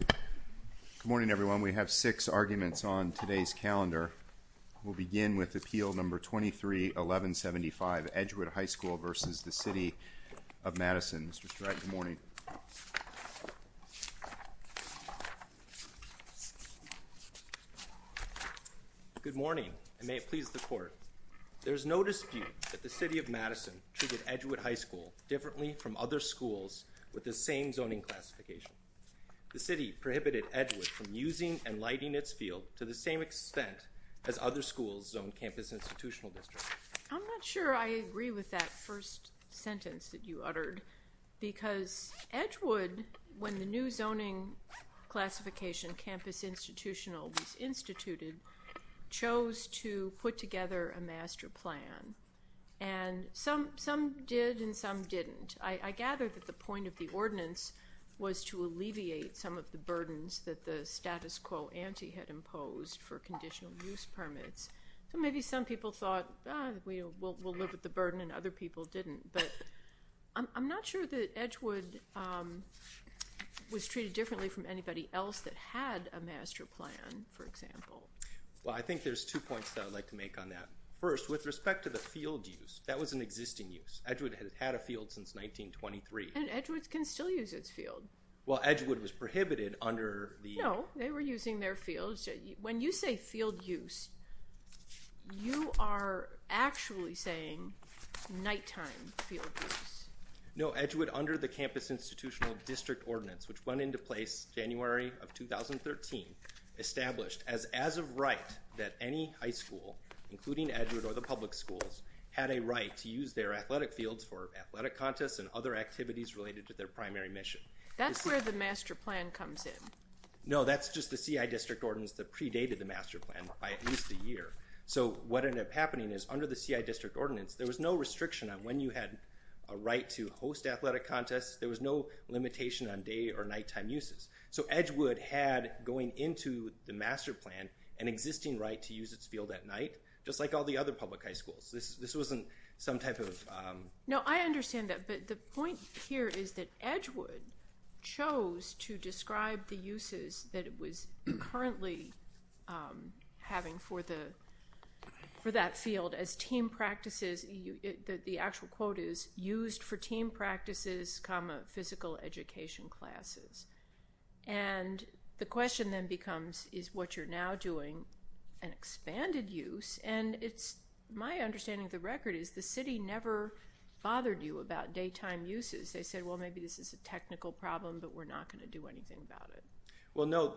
Good morning, everyone. We have six arguments on today's calendar. We'll begin with Appeal No. 23-1175, Edgewood High School v. the City of Madison. Mr. Stratton, good morning. Good morning, and may it please the Court. There is no dispute that the City of Madison treated Edgewood High School differently from other schools with the same zoning classification. The City prohibited Edgewood from using and lighting its field to the same extent as other schools zoned Campus Institutional District. I'm not sure I agree with that first sentence that you uttered because Edgewood, when the new zoning classification, Campus Institutional, was instituted, chose to put together a master plan, and some did and some didn't. I gather that the point of the ordinance was to alleviate some of the burdens that the status quo ante had imposed for conditional use permits. So maybe some people thought, ah, we'll live with the burden and other people didn't. But I'm not sure that Edgewood was treated differently from anybody else that had a master plan, for example. Well, I think there's two points that I'd like to make on that. First, with respect to the field use, that was an existing use. Edgewood has had a field since 1923. And Edgewood can still use its field. Well, Edgewood was prohibited under the... No, they were using their field. When you say field use, you are actually saying nighttime field use. No, Edgewood, under the Campus Institutional District Ordinance, which went into place January of 2013, established as as of right that any high school, including Edgewood or the public schools, had a right to use their athletic fields for athletic contests and other activities related to their primary mission. That's where the master plan comes in. No, that's just the CI District Ordinance that predated the master plan by at least a year. So what ended up happening is, under the CI District Ordinance, there was no restriction on when you had a right to host athletic contests. There was no limitation on day or nighttime uses. So Edgewood had, going into the master plan, an existing right to use its field at night, just like all the other public high schools. This wasn't some type of... No, I understand that, but the point here is that Edgewood chose to describe the uses that it was currently having for that field as team practices. The actual quote is, used for team practices, physical education classes. And the question then becomes, is what you're now doing an expanded use? And my understanding of the record is the city never bothered you about daytime uses. They said, well, maybe this is a technical problem, but we're not going to do anything about it. Well, no.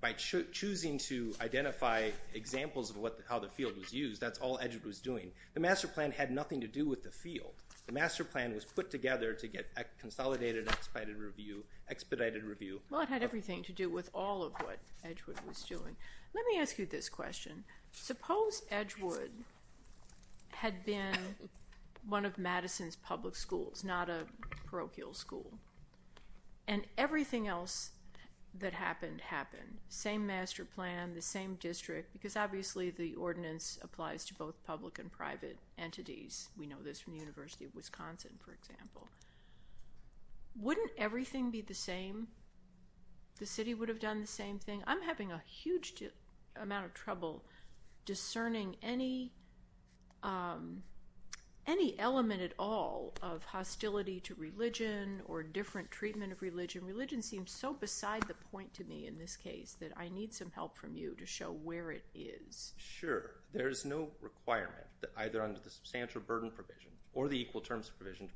By choosing to identify examples of how the field was used, that's all Edgewood was doing. The master plan had nothing to do with the field. The master plan was put together to get a consolidated, expedited review. Well, it had everything to do with all of what Edgewood was doing. Let me ask you this question. Suppose Edgewood had been one of Madison's public schools, not a parochial school, and everything else that happened happened. Same master plan, the same district, because obviously the ordinance applies to both public and private entities. We know this from the University of Wisconsin, for example. Wouldn't everything be the same? The city would have done the same thing? I'm having a huge amount of trouble discerning any element at all of hostility to religion or different treatment of religion. Religion seems so beside the point to me in this case that I need some help from you to show where it is. Sure. There is no requirement, either under the substantial burden provision or the equal terms provision,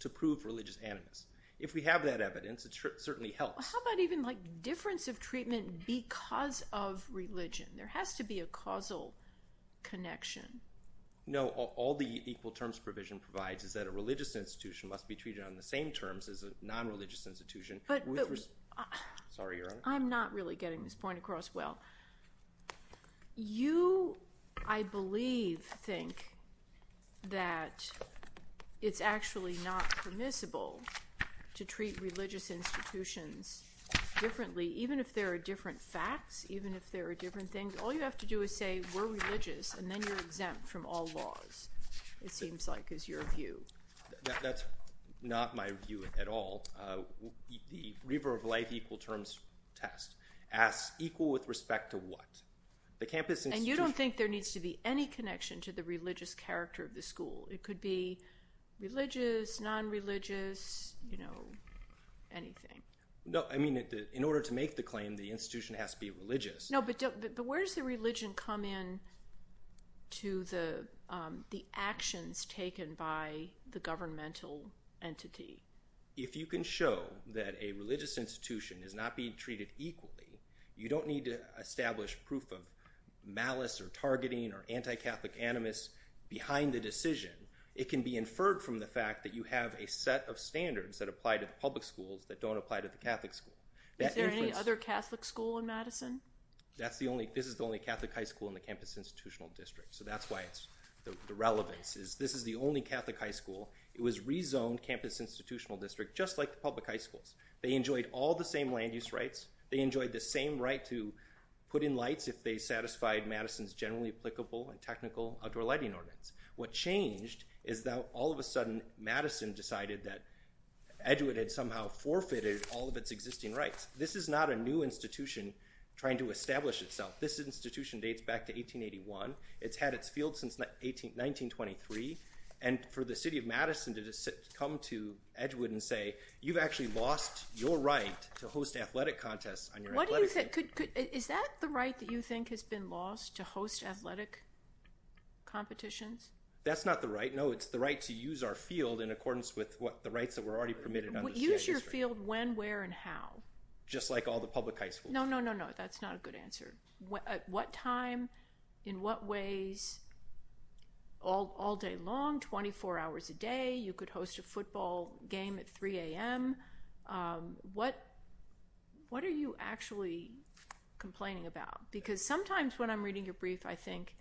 to prove religious animus. If we have that evidence, it certainly helps. How about even difference of treatment because of religion? There has to be a causal connection. No. All the equal terms provision provides is that a religious institution must be treated on the same terms as a non-religious institution. Sorry, Your Honor. I'm not really getting this point across well. You, I believe, think that it's actually not permissible to treat religious institutions differently, even if there are different facts, even if there are different things. All you have to do is say we're religious, and then you're exempt from all laws, it seems like is your view. That's not my view at all. The Reaver of Life equal terms test asks equal with respect to what? The campus institution. And you don't think there needs to be any connection to the religious character of the school. It could be religious, non-religious, you know, anything. No. I mean, in order to make the claim, the institution has to be religious. No, but where does the religion come in to the actions taken by the governmental entity? If you can show that a religious institution is not being treated equally, you don't need to establish proof of malice or targeting or anti-Catholic animus behind the decision. It can be inferred from the fact that you have a set of standards that apply to the public schools that don't apply to the Catholic school. Is there any other Catholic school in Madison? That's the only, this is the only Catholic high school in the campus institutional district. So that's why it's, the relevance is this is the only Catholic high school. It was rezoned campus institutional district, just like the public high schools. They enjoyed all the same land use rights. They enjoyed the same right to put in lights if they satisfied Madison's generally applicable and technical outdoor lighting ordinance. What changed is that all of a sudden Madison decided that Edward had somehow forfeited all of its existing rights. This is not a new institution trying to establish itself. This institution dates back to 1881. It's had its field since 1923. And for the city of Madison to come to Edward and say, you've actually lost your right to host athletic contests. Is that the right that you think has been lost to host athletic competitions? That's not the right. No, it's the right to use our field in accordance with what the rights that were already permitted. Use your field when, where, and how? Just like all the public high schools. No, no, no, no. That's not a good answer. At what time? In what ways? All day long? 24 hours a day? You could host a football game at 3 a.m.? What are you actually complaining about? Because sometimes when I'm reading your brief, I think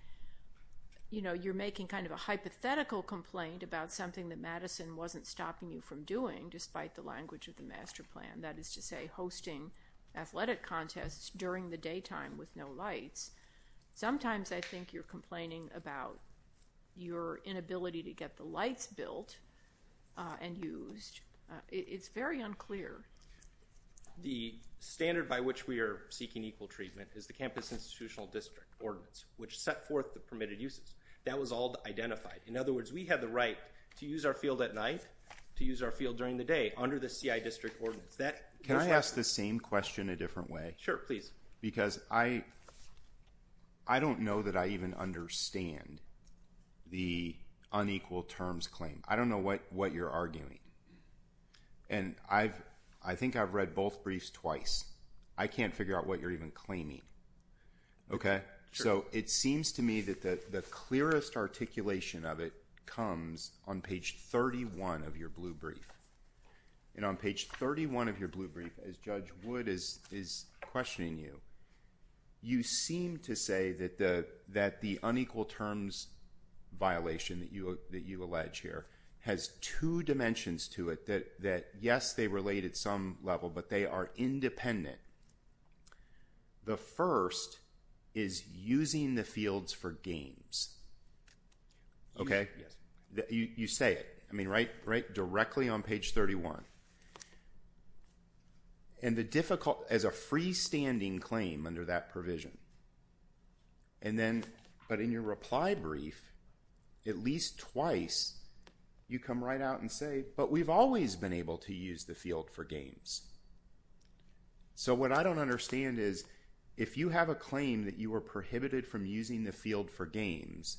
you're making kind of a hypothetical complaint about something that Madison wasn't stopping you from doing, despite the language of the master plan. That is to say, hosting athletic contests during the daytime with no lights. Sometimes I think you're complaining about your inability to get the lights built and used. It's very unclear. The standard by which we are seeking equal treatment is the Campus Institutional District Ordinance, which set forth the permitted uses. That was all identified. In other words, we have the right to use our field at night, to use our field during the day, under the CI District Ordinance. Can I ask the same question a different way? Sure, please. Because I don't know that I even understand the unequal terms claim. I don't know what you're arguing. And I think I've read both briefs twice. I can't figure out what you're even claiming. Okay? So it seems to me that the clearest articulation of it comes on page 31 of your blue brief. And on page 31 of your blue brief, as Judge Wood is questioning you, you seem to say that the unequal terms violation that you allege here has two dimensions to it, that yes, they relate at some level, but they are independent. The first is using the fields for games. Okay? Yes. You say it. I mean, right directly on page 31. And the difficult, as a freestanding claim under that provision. And then, but in your reply brief, at least twice, you come right out and say, but we've always been able to use the field for games. So what I don't understand is, if you have a claim that you were prohibited from using the field for games,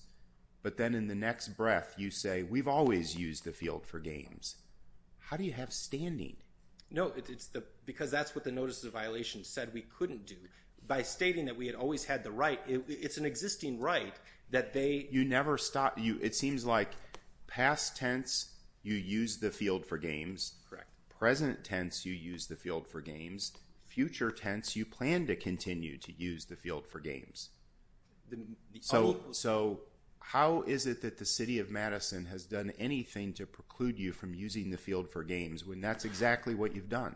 but then in the next breath you say, we've always used the field for games, how do you have standing? No, it's because that's what the notice of violation said we couldn't do. By stating that we had always had the right, it's an existing right that they. You never stop. It seems like past tense, you use the field for games. Correct. Present tense, you use the field for games. Future tense, you plan to continue to use the field for games. So how is it that the city of Madison has done anything to preclude you from using the field for games when that's exactly what you've done?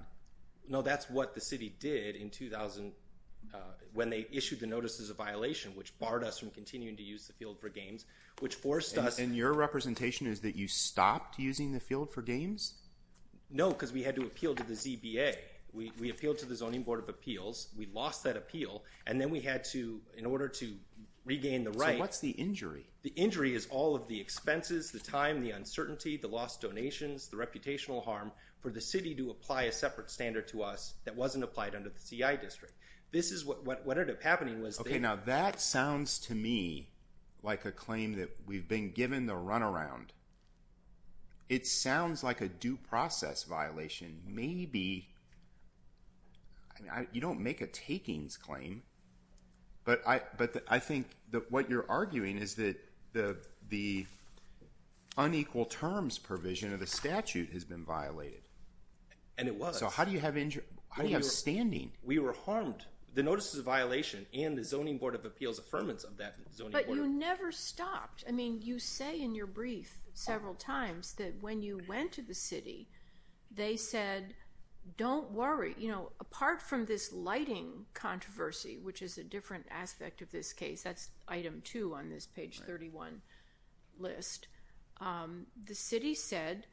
No, that's what the city did in 2000 when they issued the notices of violation, which barred us from continuing to use the field for games, which forced us. And your representation is that you stopped using the field for games? No, because we had to appeal to the ZBA. We appealed to the Zoning Board of Appeals. We lost that appeal, and then we had to, in order to regain the right. So what's the injury? The injury is all of the expenses, the time, the uncertainty, the lost donations, the reputational harm for the city to apply a separate standard to us that wasn't applied under the CI district. This is what ended up happening was that. Okay, now that sounds to me like a claim that we've been given the runaround. It sounds like a due process violation. Maybe you don't make a takings claim, but I think that what you're arguing is that the unequal terms provision of the statute has been violated. And it was. So how do you have standing? We were harmed. The notices of violation and the Zoning Board of Appeals affirmance of that. But you never stopped. I mean, you say in your brief several times that when you went to the city, they said, don't worry. Apart from this lighting controversy, which is a different aspect of this case, that's item two on this page 31 list, the city said,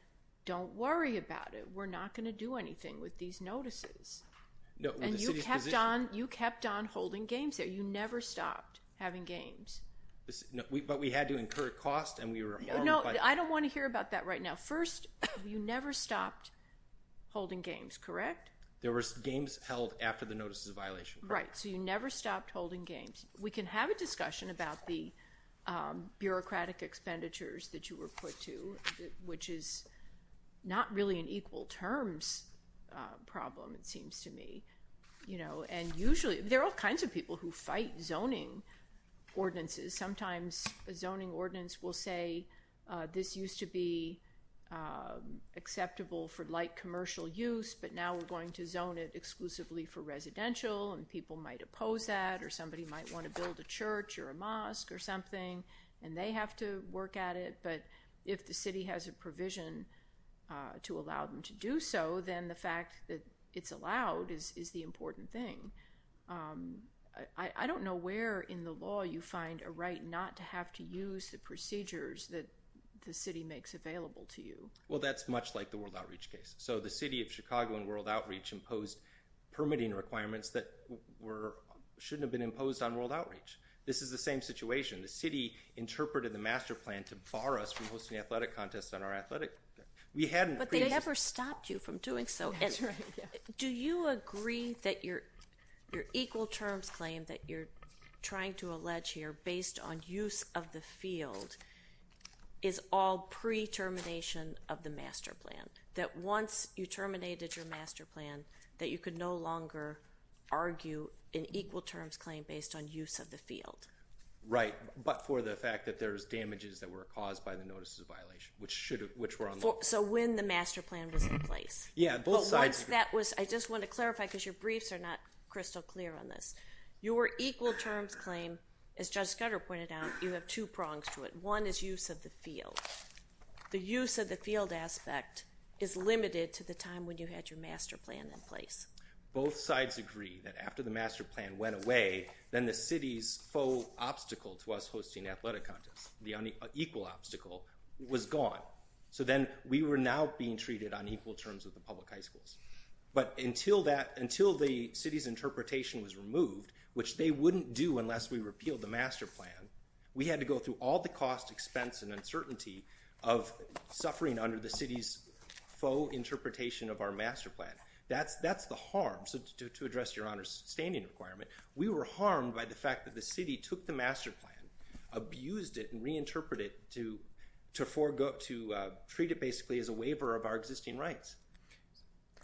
don't worry about it. We're not going to do anything with these notices. And you kept on holding games there. You never stopped having games. But we had to incur cost and we were harmed. No, I don't want to hear about that right now. First, you never stopped holding games, correct? There were games held after the notices of violation. Right. So you never stopped holding games. We can have a discussion about the bureaucratic expenditures that you were put to, which is not really an equal terms problem, it seems to me. And usually there are all kinds of people who fight zoning ordinances. Sometimes a zoning ordinance will say this used to be acceptable for light commercial use, but now we're going to zone it exclusively for residential. And people might oppose that, or somebody might want to build a church or a mosque or something, and they have to work at it. But if the city has a provision to allow them to do so, then the fact that it's allowed is the important thing. I don't know where in the law you find a right not to have to use the procedures that the city makes available to you. Well, that's much like the World Outreach case. So the city of Chicago in World Outreach imposed permitting requirements that shouldn't have been imposed on World Outreach. This is the same situation. The city interpreted the master plan to bar us from hosting athletic contests on our athletic. But they never stopped you from doing so. That's right, yeah. Do you agree that your equal terms claim that you're trying to allege here based on use of the field is all pre-termination of the master plan, that once you terminated your master plan that you could no longer argue an equal terms claim based on use of the field? Right, but for the fact that there's damages that were caused by the So when the master plan was in place. Yeah, both sides. I just want to clarify because your briefs are not crystal clear on this. Your equal terms claim, as Judge Scudder pointed out, you have two prongs to it. One is use of the field. The use of the field aspect is limited to the time when you had your master plan in place. Both sides agree that after the master plan went away, then the city's faux obstacle to us hosting athletic contests, the equal obstacle, was gone. So then we were now being treated on equal terms with the public high schools. But until the city's interpretation was removed, which they wouldn't do unless we repealed the master plan, we had to go through all the cost, expense, and uncertainty of suffering under the city's faux interpretation of our master plan. That's the harm. So to address your honor's standing requirement, we were harmed by the fact that the city took the master plan, abused it and reinterpreted it to treat it basically as a waiver of our existing rights.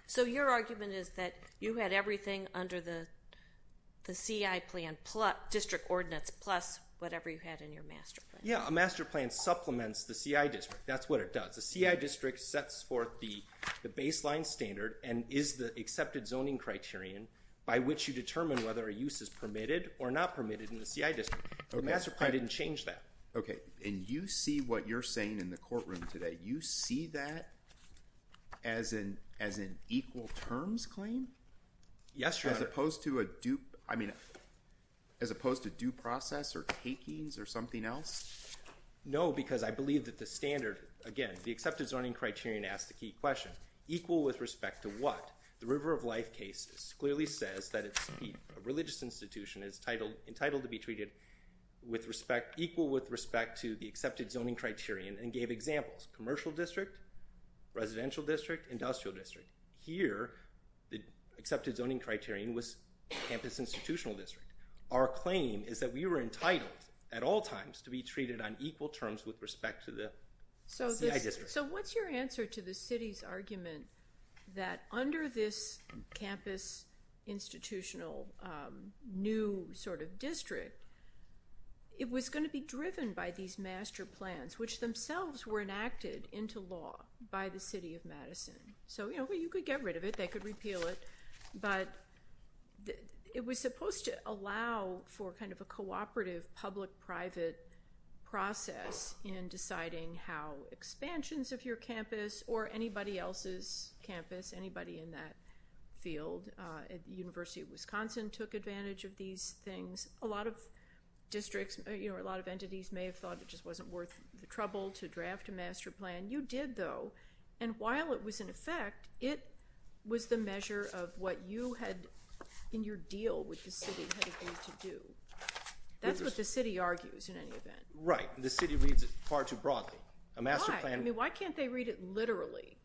So your argument is that you had everything under the CI plan, district ordinance, plus whatever you had in your master plan. Yeah, a master plan supplements the CI district. That's what it does. The CI district sets forth the baseline standard and is the accepted zoning criterion by which you determine whether a use is permitted or not permitted in the CI district. The master plan didn't change that. Okay. And you see what you're saying in the courtroom today. You see that as an, as an equal terms claim. Yes. As opposed to a dupe. I mean, as opposed to due process or takings or something else. No, because I believe that the standard, again, the accepted zoning criterion asked the key question equal with respect to what the river of life cases clearly says that it's a religious institution is entitled to be treated with respect, equal with respect to the accepted zoning criterion and gave examples, commercial district, residential district, industrial district. Here, the accepted zoning criterion was campus institutional district. Our claim is that we were entitled at all times to be treated on equal terms with respect to the CI district. So what's your answer to the city's argument that under this campus institutional new sort of district, it was going to be driven by these master plans, which themselves were enacted into law by the city of Madison. So, you know, you could get rid of it. They could repeal it, but it was supposed to allow for kind of a cooperative public private field. At the university of Wisconsin took advantage of these things. A lot of districts, you know, a lot of entities may have thought it just wasn't worth the trouble to draft a master plan. You did though. And while it was in effect, it was the measure of what you had in your deal with the city to do. That's what the city argues in any event, right? The city reads it far too broadly. A master plan. I mean, why can't they read it? Literally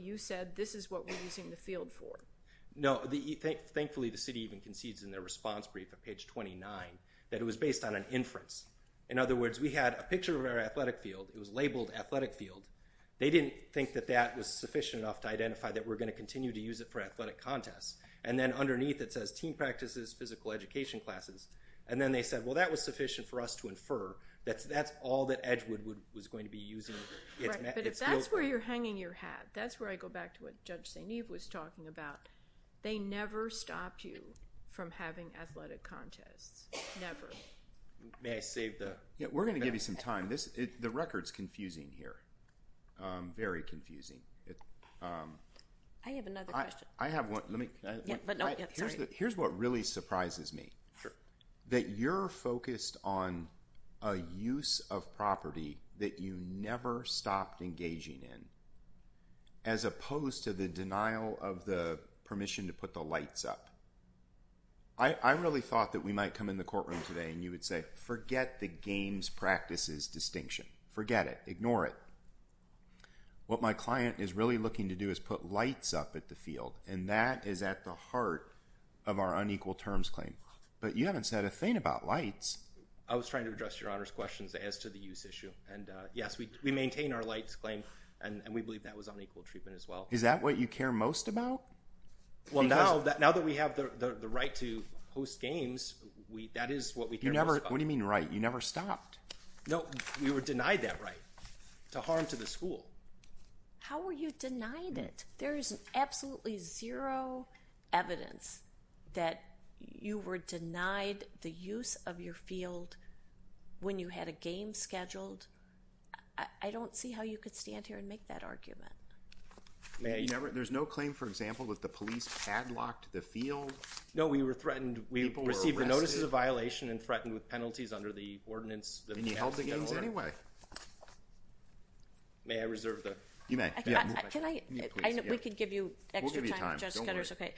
you said, this is what we're using the field for. No. Thankfully, the city even concedes in their response brief at page 29 that it was based on an inference. In other words, we had a picture of our athletic field. It was labeled athletic field. They didn't think that that was sufficient enough to identify that we're going to continue to use it for athletic contests. And then underneath it says team practices, physical education classes. And then they said, well, that was sufficient for us to infer that that's all that Edgewood would, was going to be using. If that's where you're hanging your hat, that's where I go back to what judge St. Eve was talking about. They never stopped you from having athletic contests. Never. May I save the. Yeah, we're going to give you some time. This is the records confusing here. Very confusing. I have another question. I have one. Let me. Here's what really surprises me. Sure. That you're focused on. A use of property that you never stopped engaging in. As opposed to the denial of the permission to put the lights up. I, I really thought that we might come in the courtroom today and you would say, forget the games practices distinction, forget it, ignore it. What my client is really looking to do is put lights up at the field. And that is at the heart. Of our unequal terms claim. But you haven't said a thing about lights. I was trying to address your honor's questions as to the use issue. And yes, we maintain our lights claim and we believe that was unequal treatment as well. Is that what you care most about? Well, now that now that we have the right to host games, we, that is what we can never, what do you mean? Right? You never stopped. Nope. We were denied that right to harm to the school. How were you denied it? There is absolutely zero evidence. That you were denied the use of your field. When you had a game scheduled. I don't see how you could stand here and make that argument. There's no claim. For example, that the police padlocked the field. No, we were threatened. We received the notices of violation and threatened with penalties under the ordinance. May I reserve the. You may. Can I, I know we could give you extra time. Okay.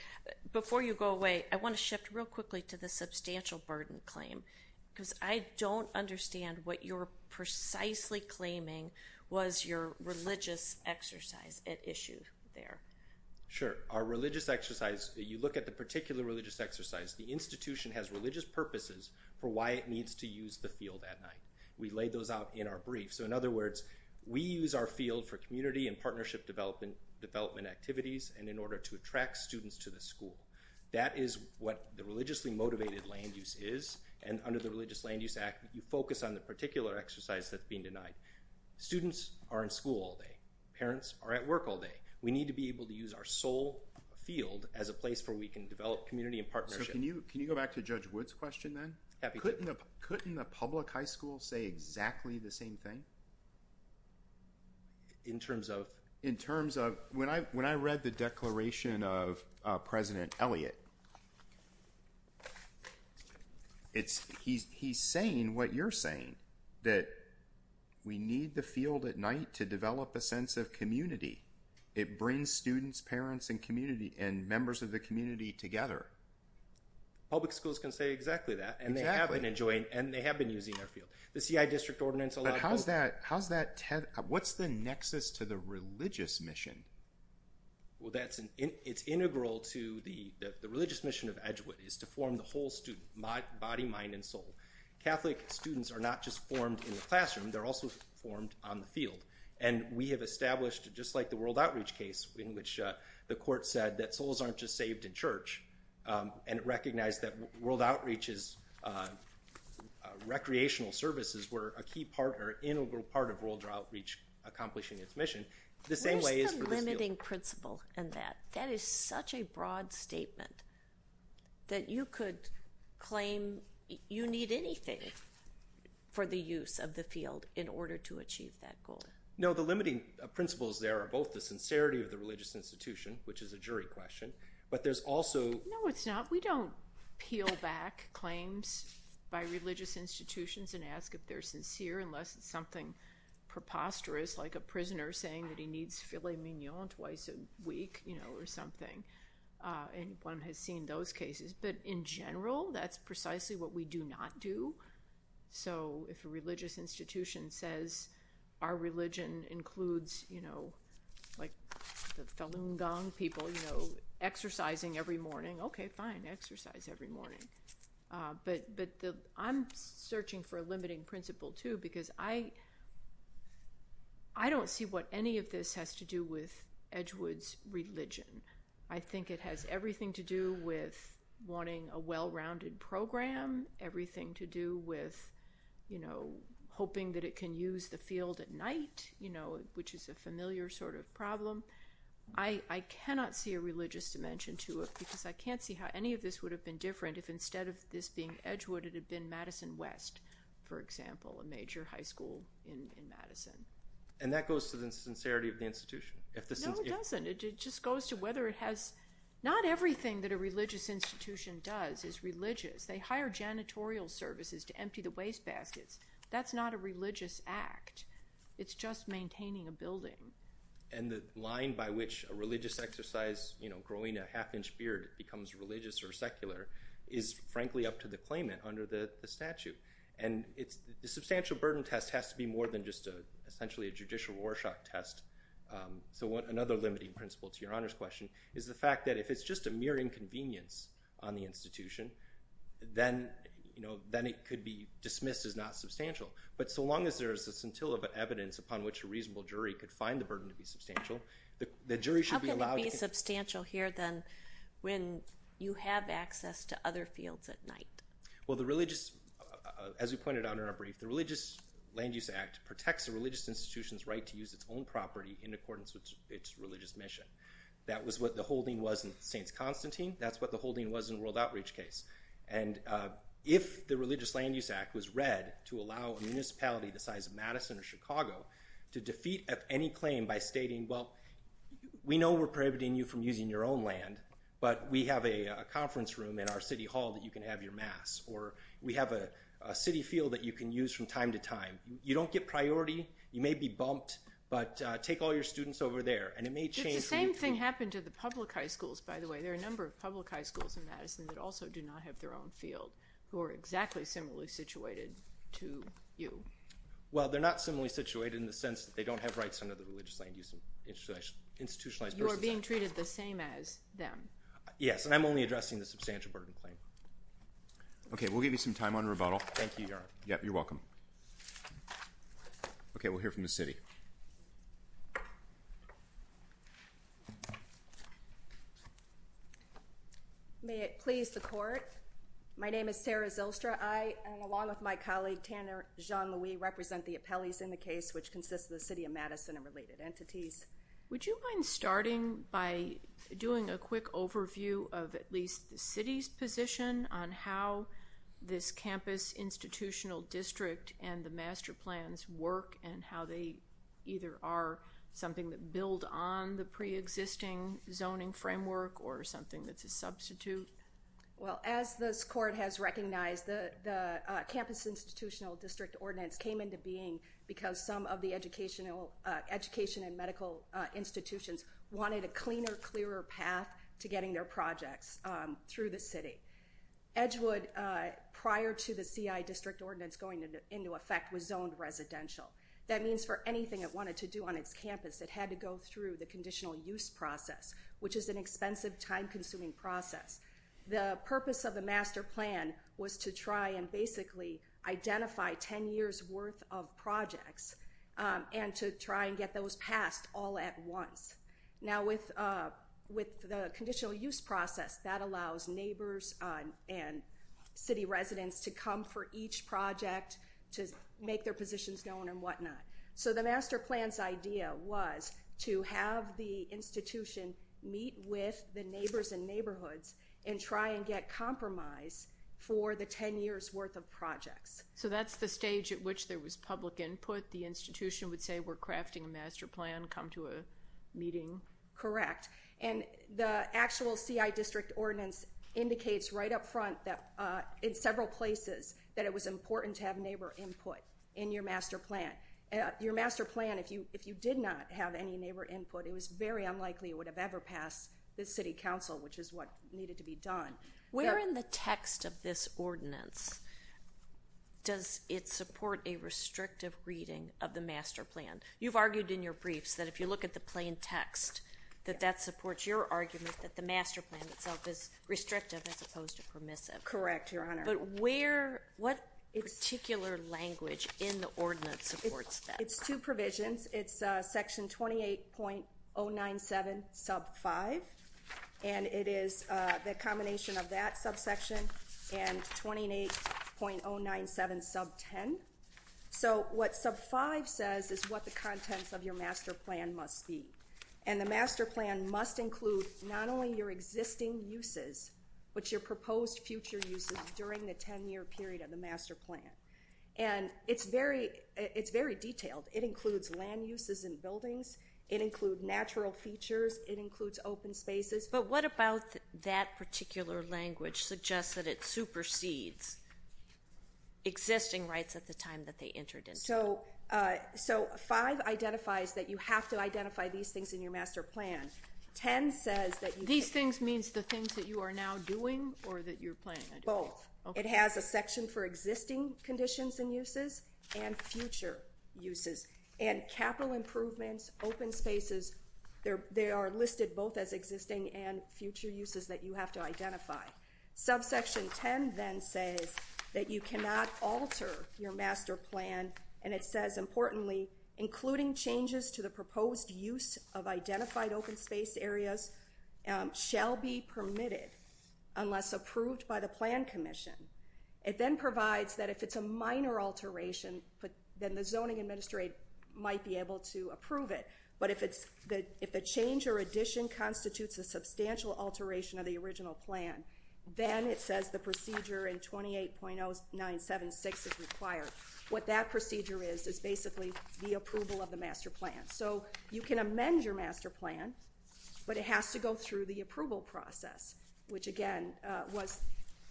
Before you go away, I want to shift real quickly to the substantial burden claim. Because I don't understand what you're precisely claiming was your religious exercise at issue there. Sure. Our religious exercise. You look at the particular religious exercise. The institution has religious purposes for why it needs to use the field at night. We laid those out in our brief. So in other words, we use our field for community and partnership development, development activities. And in order to attract students to the school, that is what the religiously motivated land use is. And under the religious land use act, you focus on the particular exercise that's being denied. Students are in school all day. Parents are at work all day. We need to be able to use our soul field as a place for, we can develop community and partnership. Can you, can you go back to judge woods question then. Couldn't the public high school say exactly the same thing. In terms of, in terms of when I, when I read the declaration of president Elliot, It's he's, he's saying what you're saying that we need the field at night to develop a sense of community. It brings students, parents, and community, and members of the community together. Public schools can say exactly that. And they haven't enjoyed, and they have been using their field. The CI district ordinance allows that. How's that Ted? What's the nexus to the religious mission? Well, that's an, it's integral to the, the religious mission of edgewood is to form the whole student, my body, mind, and soul. Catholic students are not just formed in the classroom. They're also formed on the field. And we have established just like the world outreach case in which the court said that souls aren't just saved in church. And it recognized that world outreach is Recreational services were a key part or integral part of world outreach, accomplishing its mission. The same way is limiting principle and that, that is such a broad statement that you could claim you need anything for the use of the field in order to achieve that goal. No, the limiting principles there are both the sincerity of the religious institution, which is a jury question, but there's also, no, it's not, we don't peel back claims by religious institutions and ask if they're sincere, unless it's something preposterous like a prisoner saying that he needs filet mignon twice a week, you know, or something. And one has seen those cases, but in general, that's precisely what we do not do. So if a religious institution says our religion includes, you know, like the felon gong people, you know, exercising every morning. Okay, fine exercise every morning. But, but I'm searching for a limiting principle too, because I, I don't see what any of this has to do with Edgewood's religion. I think it has everything to do with wanting a well-rounded program, everything to do with, you know, hoping that it can use the field at night, you know, which is a familiar sort of problem. I cannot see a religious dimension to it because I can't see how any of this would have been different. If instead of this being Edgewood, it had been Madison West, for example, a major high school in Madison. And that goes to the sincerity of the institution. If this doesn't, it just goes to whether it has not everything that a religious institution does is religious. They hire janitorial services to empty the wastebaskets. That's not a religious act. It's just maintaining a building. And the line by which a religious exercise, you know, growing a half inch beard becomes religious or secular is frankly up to the claimant under the statute. And it's the substantial burden test has to be more than just a, essentially a judicial Rorschach test. So what, another limiting principle to your honor's question is the fact that if it's just a mere inconvenience on the institution, then, you know, then it could be dismissed as not substantial. But so long as there's a scintilla of evidence upon which a reasonable jury could find the burden to be substantial, the jury should be allowed to be substantial here. Then when you have access to other fields at night, well, the religious, as we pointed out in our brief, the religious land use act protects the religious institutions, right? To use its own property in accordance with its religious mission. That was what the holding wasn't saints Constantine. That's what the holding was in world outreach case. And if the religious land use act was read to allow a municipality, the size of Madison or Chicago to defeat at any claim by stating, well, we know we're prohibiting you from using your own land, but we have a conference room in our city hall that you can have your mass, or we have a city field that you can use from time to time. You don't get priority. You may be bumped, but take all your students over there. And it may change. The same thing happened to the public high schools, by the way, there are a number of public high schools in Madison that also do not have their own field who are exactly similarly situated to you. Well, they're not similarly situated in the sense that they don't have rights under the religious land use. Institutionalized institutionalized versus being treated the same as them. Yes. And I'm only addressing the substantial burden claim. Okay. We'll give you some time on rebuttal. Thank you. Yep. You're welcome. Okay. We'll hear from the city. May it please the court. My name is Sarah Zylstra. I along with my colleague, Tanner Jean-Louis represent the appellees in the case, which consists of the city of Madison and related entities. Would you mind starting by doing a quick overview of at least the city's position on how this campus institutional district and the master plans work and how they either are something that build on the preexisting zoning framework or something that's a substitute. Well, as this court has recognized the campus institutional district ordinance came into being because some of the educational education and medical institutions wanted a cleaner, clearer path to getting their projects through the city. Edgewood prior to the CI district ordinance going into effect was zoned residential. That means for anything it wanted to do on its campus, it had to go through the conditional use process, which is an expensive time consuming process. The purpose of the master plan was to try and basically identify 10 years worth of projects and to try and get those past all at once. Now with with the conditional use process that allows neighbors and city residents to come for each project to make their positions known and whatnot. So the master plan's idea was to have the institution meet with the neighbors and neighborhoods and try and get compromise for the 10 years worth of projects. So that's the stage at which there was public input. The institution would say, we're crafting a master plan, come to a meeting, correct? And the actual CI district ordinance indicates right up front that in several places that it was important to have neighbor input in your master plan, your master plan. If you, if you did not have any neighbor input, it was very unlikely it would have ever passed the city council, which is what needed to be done. We're in the text of this ordinance. Does it support a restrictive reading of the master plan? You've argued in your briefs that if you look at the plain text, that that supports your argument, that the master plan itself is restrictive as opposed to permissive. Correct. Your honor. But where, what particular language in the ordinance supports that? It's two provisions. It's a section 28.097 sub five. And it is a combination of that subsection and 28.097 sub 10. So what sub five says is what the contents of your master plan must be. And the master plan must include not only your existing uses, but your proposed future uses during the 10 year period of the master plan. And it's very, it's very detailed. It includes land uses in buildings. It include natural features. It includes open spaces. But what about that particular language suggests that it supersedes existing rights at the time that they entered in? So, uh, so five identifies that you have to identify these things in your master plan. 10 says that these things means the things that you are now doing or that you're playing both. It has a section for existing conditions and uses and future uses and capital improvements, open spaces there. They are listed both as existing and future uses that you have to identify. Subsection 10 then says that you cannot alter your master plan. And it says importantly, including changes to the proposed use of identified open space areas, um, shall be permitted unless approved by the plan commission. It then provides that if it's a minor alteration, but then the zoning administrate might be able to approve it. But if it's the, if the change or addition constitutes a substantial alteration of the original plan, then it says the procedure in 28.0976 is required. What that procedure is is basically the approval of the master plan. So you can amend your master plan, but it has to go through the approval process, which again, uh, was,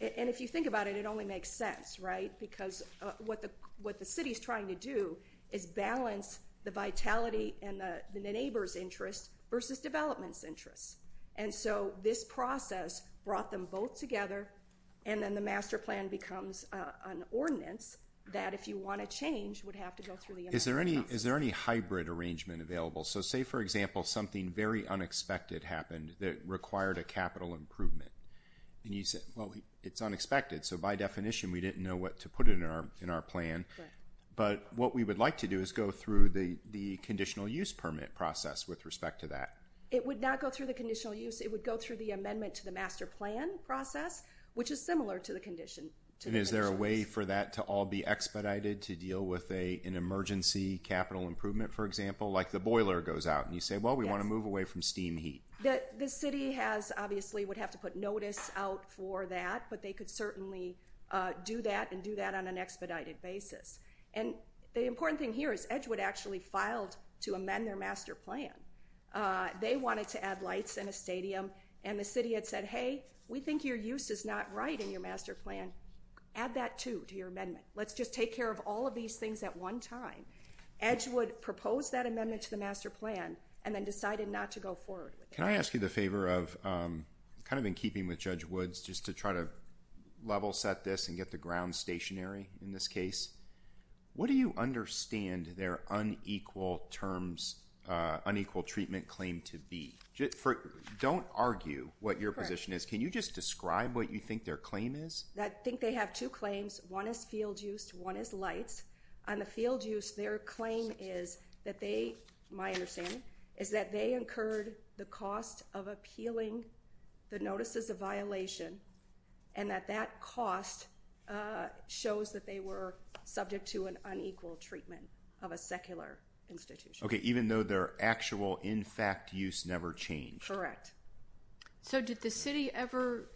and if you think about it, it only makes sense, right? Because, uh, what the, what the city is trying to do is balance the vitality and the, the neighbor's interest versus development's interests. And so this process brought them both together. And then the master plan becomes a, an ordinance that if you want to change would have to go through the, is there any, is there any hybrid arrangement available? So say for example, something very unexpected happened that required a capital improvement. And you said, well, it's unexpected. So by definition, we didn't know what to put it in our, in our plan, but what we would like to do is go through the, the conditional use permit process with respect to that. It would not go through the conditional use. It would go through the amendment to the master plan process, which is similar to the condition. Is there a way for that to all be expedited to deal with a, an emergency capital improvement, for example, like the boiler goes out and you say, well, we want to move away from steam heat. The city has obviously would have to put notice out for that, but they could certainly do that and do that on an expedited basis. And the important thing here is Edgewood actually filed to amend their master plan. Uh, they wanted to add lights in a stadium and the city had said, Hey, we think your use is not right in your master plan. Add that to, to your amendment. Let's just take care of all of these things at one time. Edgewood proposed that amendment to the master plan and then decided not to go forward. Can I ask you the favor of, um, kind of in keeping with judge Woods, just to try to level set this and get the ground stationary in this case, what do you understand their unequal terms, uh, unequal treatment claim to be don't argue what your position is. Can you just describe what you think their claim is? I think they have two claims. One is field used. One is lights on the field. Use their claim is that they, my understanding is that they incurred the cost of appealing the notices of violation and that that cost, uh, shows that they were subject to an unequal treatment of a secular institution. Okay. Even though their actual, in fact, use never changed. Correct. So did the city ever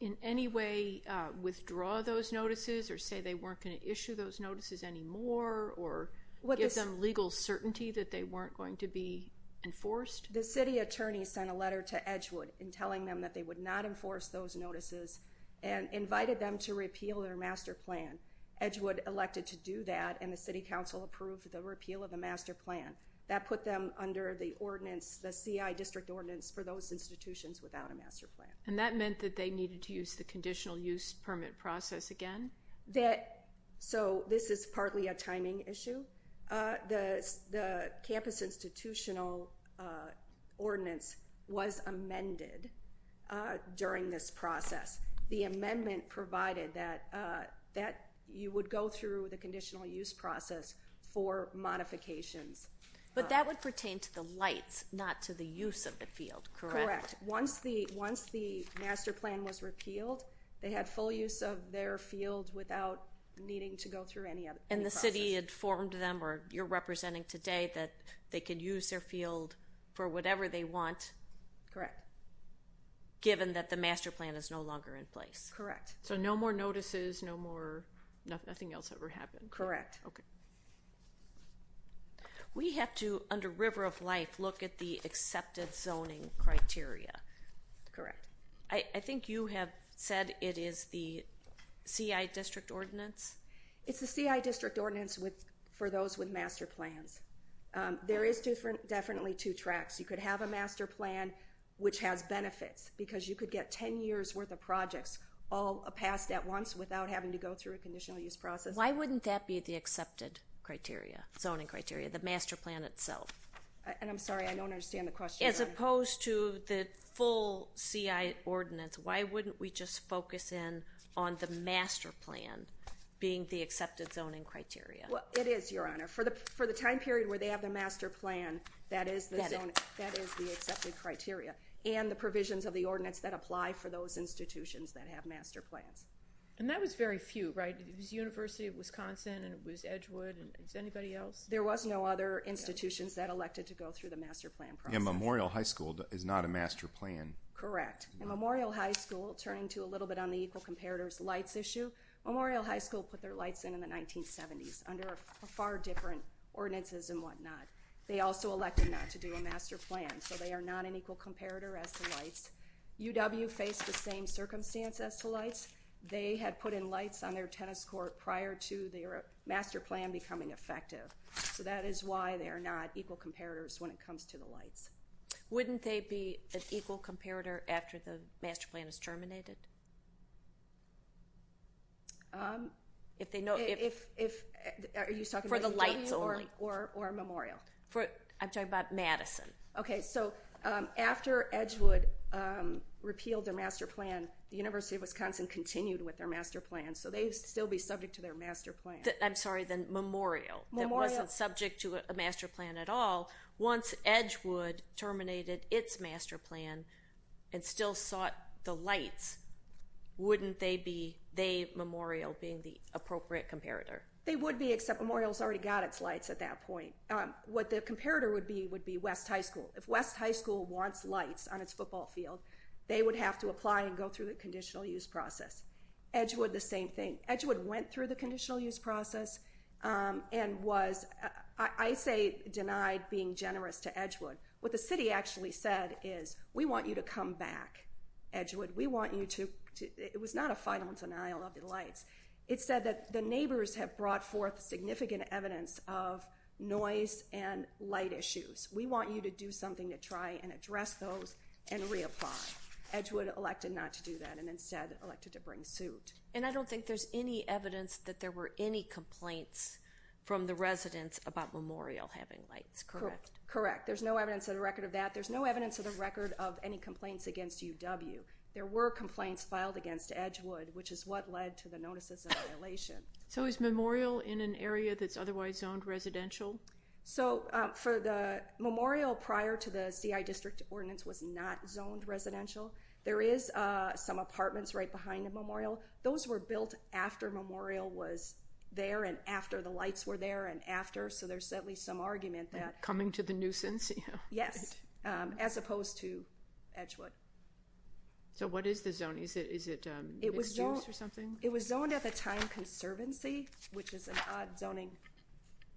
in any way, uh, withdraw those notices or say they weren't going to issue those notices anymore or what gives them legal certainty that they weren't going to be enforced? The city attorney sent a letter to Edgewood and telling them that they would not enforce those notices and invited them to repeal their master plan. Edgewood elected to do that. And the city council approved the repeal of the master plan that put them under the ordinance, the CI district ordinance for those institutions without a master plan. And that meant that they needed to use the conditional use permit process again. That, so this is partly a timing issue. Uh, the, the campus institutional, uh, ordinance was amended, uh, during this process, the amendment provided that, uh, that you would go through the conditional use process for modifications, but that would pertain to the lights, not to the use of the field. Correct. Once the, once the master plan was repealed, they had full use of their field without needing to go through any of it. And the city had formed them or you're representing today that they could use their field for whatever they want. Correct. Given that the master plan is no longer in place. Correct. So no more notices, no more, nothing else ever happened. Correct. Okay. We have to under river of life, look at the accepted zoning criteria. Correct. I think you have said it is the CI district ordinance. It's the CI district ordinance with, for those with master plans. Um, there is different, definitely two tracks. You could have a master plan, which has benefits because you could get 10 years worth of projects, all a past at once without having to go through a conditional use process. Why wouldn't that be the accepted criteria? Zoning criteria, the master plan itself. And I'm sorry, I don't understand the question as opposed to the full CI ordinance. Why wouldn't we just focus in on the master plan being the accepted zoning criteria? It is your honor for the, for the time period where they have the master plan, that is the zone. That is the accepted criteria and the provisions of the ordinance that apply for those institutions that have master plans. And that was very few, right? It was university of Wisconsin and it was Edgewood. And it's anybody else. There was no other institutions that elected to go through the master plan. Memorial high school is not a master plan. Correct. And Memorial high school turning to a little bit on the equal comparators, lights issue. Memorial high school put their lights in, in the 1970s under a far different ordinances and whatnot. They also elected not to do a master plan. So they are not an equal comparator as the lights UW, face the same circumstance as to lights. They had put in lights on their tennis court prior to their master plan becoming effective. So that is why they are not equal comparators when it comes to the lights. Wouldn't they be an equal comparator after the master plan is terminated? If they know, if, if, if you suck for the lights or, or, or Memorial for, I'm talking about Madison. Okay. So after Edgewood repealed their master plan, the university of Wisconsin continued with their master plan. So they still be subject to their master plan. I'm sorry. Then Memorial wasn't subject to a master plan at all. Once Edgewood terminated its master plan and still sought the lights, wouldn't they be they Memorial being the appropriate comparator? They would be except Memorial has already got its lights at that point. What the comparator would be, would be West high school. If West high school wants lights on its football field, they would have to apply and go through the conditional use process. Edgewood, the same thing. Edgewood went through the conditional use process and was, I say denied being generous to Edgewood. What the city actually said is we want you to come back Edgewood. We want you to, it was not a final denial of the lights. It said that the neighbors have brought forth significant evidence of noise and light issues. We want you to do something to try and address those and reapply. Edgewood elected not to do that and instead elected to bring suit. And I don't think there's any evidence that there were any complaints from the residents about Memorial having lights, correct? Correct. There's no evidence of the record of that. There's no evidence of the record of any complaints against UW. There were complaints filed against Edgewood, which is what led to the notices of violation. So is Memorial in an area that's otherwise zoned residential? So for the Memorial prior to the CI district ordinance was not zoned residential. There is some apartments right behind the Memorial. Those were built after Memorial was there and after the lights were there and after. So there's certainly some argument that. Coming to the nuisance. Yes. As opposed to Edgewood. So what is the zone? Is it, is it. It was zoned. It was zoned at the time conservancy, which is an odd zoning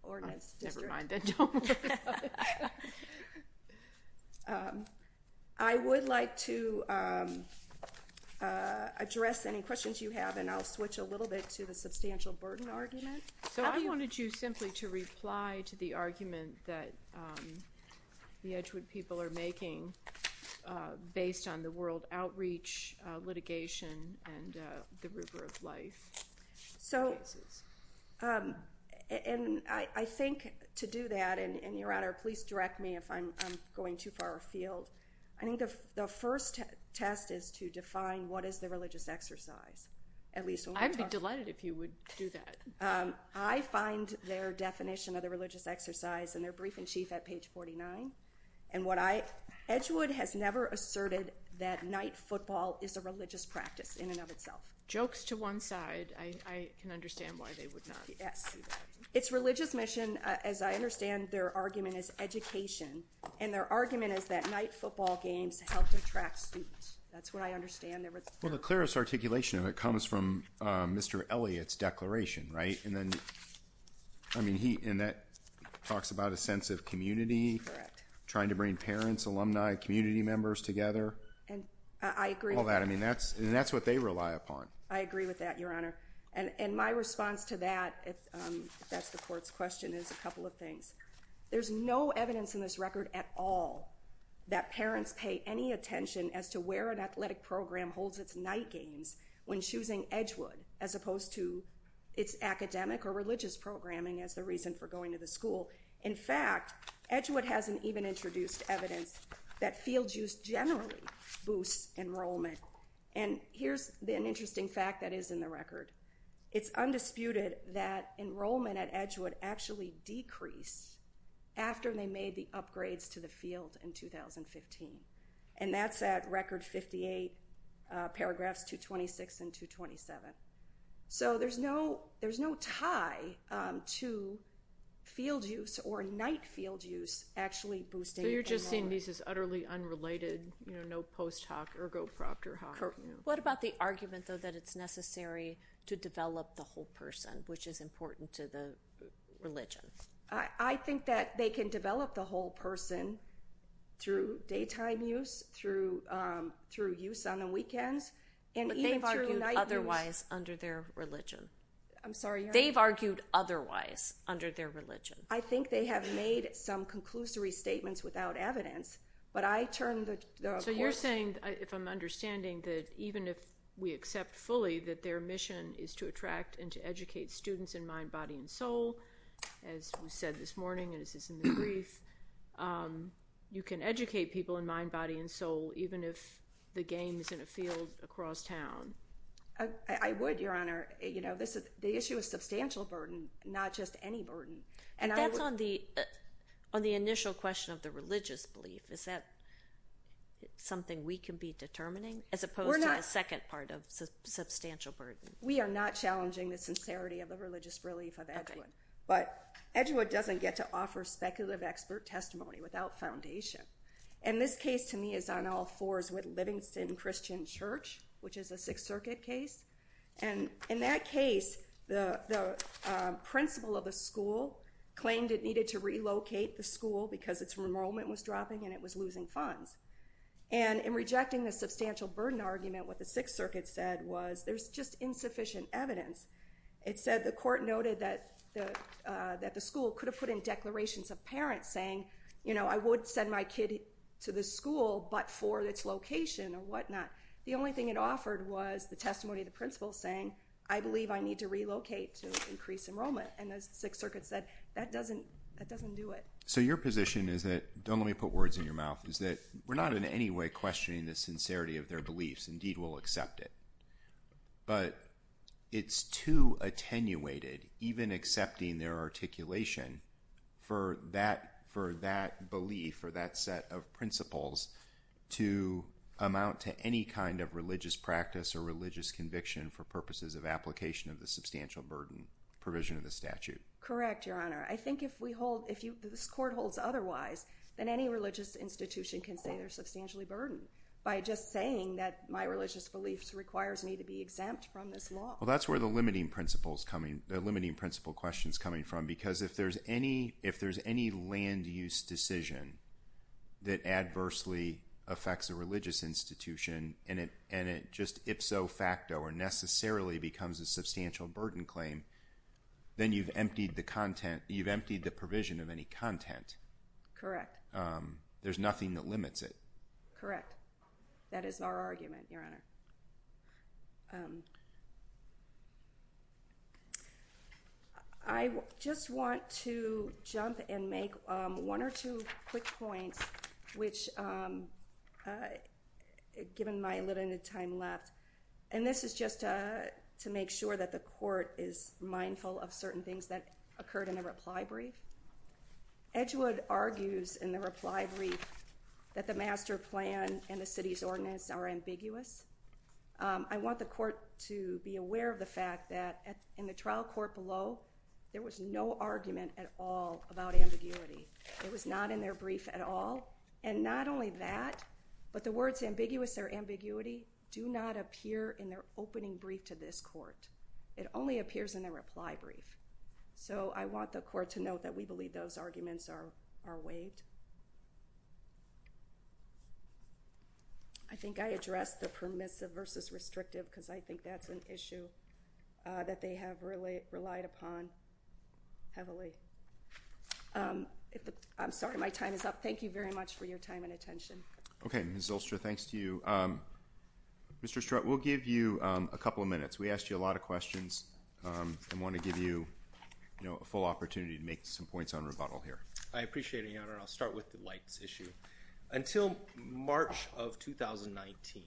ordinance district. I would like to address any questions you have and I'll switch a little bit to the substantial burden argument. So I wanted you simply to reply to the argument that the Edgewood people are making based on the world outreach litigation and the river of life. So and I think to do that and your honor, please direct me if I'm going too far afield. I think the first test is to define what is the religious exercise. At least I'd be delighted if you would do that. I find their definition of the religious exercise and their brief in chief at page 49 and what I Edgewood has never asserted that night football is a religious practice in and of itself. Jokes to one side. I can understand why they would not. Yes. It's religious mission. As I understand, their argument is education and their argument is that night football games helped attract students. That's what I understand. Well, the clearest articulation of it comes from Mr. Elliott's declaration, right? And then I mean, he, and that talks about a sense of community trying to bring parents, alumni, community members together. And I agree with that. I mean, that's, and that's what they rely upon. I agree with that, your honor. And my response to that, if that's the court's question is a couple of things. There's no evidence in this record at all that parents pay any attention as to where an athletic program holds its night games when choosing Edgewood as opposed to its academic or religious programming as the reason for going to the school. In fact, Edgewood hasn't even introduced evidence that field use generally boosts enrollment. And here's an interesting fact that is in the record. It's undisputed that enrollment at Edgewood actually decrease after they made the upgrades to the field in 2015. And that's at record 58 paragraphs, two 26 and two 27. So there's no, there's no tie to field use or night field use actually boosting. You're just seeing these as utterly unrelated, you know, post hoc or go proctor hoc. What about the argument though, that it's necessary to develop the whole person, which is important to the religion. I think that they can develop the whole person through daytime use, through, um, through use on the weekends. But they've argued otherwise under their religion. I'm sorry. They've argued otherwise under their religion. I think they have made some conclusory statements without evidence, but I turned the, so you're saying if I'm understanding that even if we accept fully that their mission is to attract and to educate students in mind, body and soul, as we said this morning, and this is in the brief, um, you can educate people in mind, body and soul, even if the game is in a field across town. I would, your honor, you know, this is the issue of substantial burden, not just any burden. And that's on the, on the initial question of the religious belief. Is that something we can be determining as opposed to a second part of substantial burden? We are not challenging the sincerity of the religious relief of Edgewood, but Edgewood doesn't get to offer speculative expert testimony without foundation. And this case to me is on all fours with Livingston Christian Church, which is a sixth circuit case. And in that case, the, the, um, principal of the school claimed it needed to relocate the school because it's enrollment was dropping and it was losing funds. And in rejecting the substantial burden argument, what the sixth circuit said was there's just insufficient evidence. It said the court noted that the, uh, that the school could have put in declarations of parents saying, you know, I would send my kid to the school, but for its location or whatnot, the only thing it offered was the testimony of the principal saying, I believe I need to relocate to increase enrollment. And as the sixth circuit said, that doesn't, that doesn't do it. So your position is that don't let me put words in your mouth is that we're not in any way questioning the sincerity of their beliefs. Indeed, we'll accept it, but it's too attenuated, even accepting their articulation for that, for that belief or that set of principles to amount to any kind of religious practice or religious conviction for purposes of application of the substantial burden provision of the statute. Correct. Your Honor. I think if we hold, if you, this court holds otherwise than any religious institution can say they're substantially burdened by just saying that my religious beliefs requires me to be exempt from this law. Well, that's where the limiting principles coming, the limiting principle questions coming from, because if there's any, if there's any land use decision that adversely affects a religious institution and it, just if so facto or necessarily becomes a substantial burden claim, then you've emptied the content. You've emptied the provision of any content. Correct. There's nothing that limits it. Correct. That is our argument. Your Honor. I just want to jump and make one or two quick points, which given my limited time left, and this is just to make sure that the court is mindful of certain things that occurred in a reply brief. Edgewood argues in the reply brief that the master plan and the city's ordinance are ambiguous. I want the court to be aware of the fact that in the trial court below, there was no argument at all about ambiguity. It was not in their brief at all. And not only that, but the words ambiguous or ambiguity do not appear in their opening brief to this court. It only appears in a reply brief. So I want the court to note that we believe those arguments are, are waived. I think I addressed the permissive versus restrictive. Cause I think that's an issue that they have really relied upon heavily. I'm sorry. My time is up. Thank you very much for your time and attention. Okay. Thanks to you, Mr. Strut. We'll give you a couple of minutes. We asked you a lot of questions and want to give you, you know, a full opportunity to make some points on rebuttal here. I appreciate it. Your Honor. I'll start with the lights issue until March of 2019.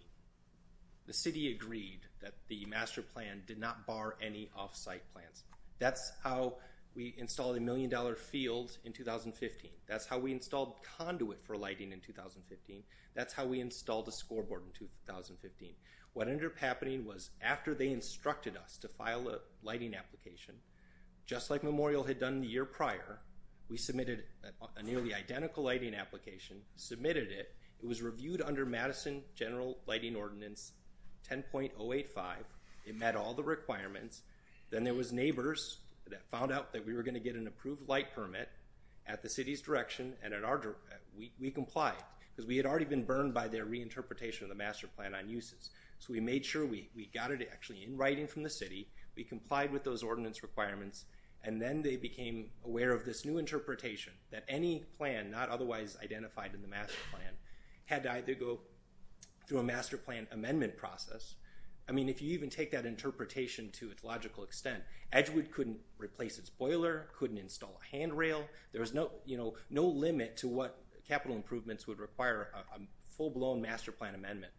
The city agreed that the master plan did not bar any offsite plans. That's how we installed a million dollar field in 2015. That's how we installed conduit for lighting in 2015. That's how we installed a scoreboard in 2015. What ended up happening was after they instructed us to file a lighting application, just like Memorial had done the year prior, we submitted a nearly identical lighting application, submitted it. It was reviewed under Madison general lighting ordinance, 10.085. It met all the requirements. Then there was neighbors that found out that we were going to get an approved light permit at the city's direction. And at our, we, we comply because we had already been burned by their reinterpretation of the master plan on uses. So we made sure we got it actually in writing from the city. We complied with those ordinance requirements. And then they became aware of this new interpretation that any plan, not otherwise identified in the master plan had died. They go through a master plan amendment process. I mean, if you even take that interpretation to its logical extent, Edgewood couldn't replace its boiler, couldn't install a handrail. There was no, you know, no limit to what capital improvements would require a full blown master plan amendment.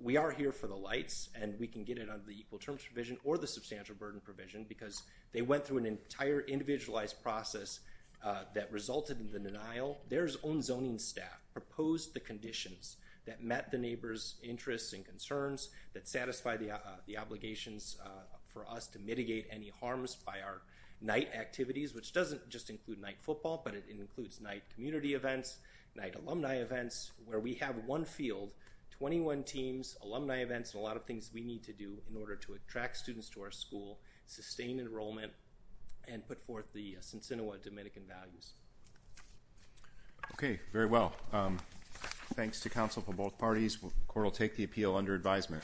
We are here for the lights and we can get it under the equal terms provision or the substantial burden provision, because they went through an entire individualized process that resulted in the denial. There's own zoning staff proposed the conditions that met the neighbor's interests and concerns that satisfy the, the obligations for us to mitigate any harms by our night activities, which doesn't just include night football, but it includes night community events, night alumni events where we have one field 21 teams, alumni events, and a lot of things we need to do in order to attract students to our school, sustain enrollment and put forth the Cincinnati Dominican values. Okay. Very well. Thanks to council for both parties. Court will take the appeal under advisement.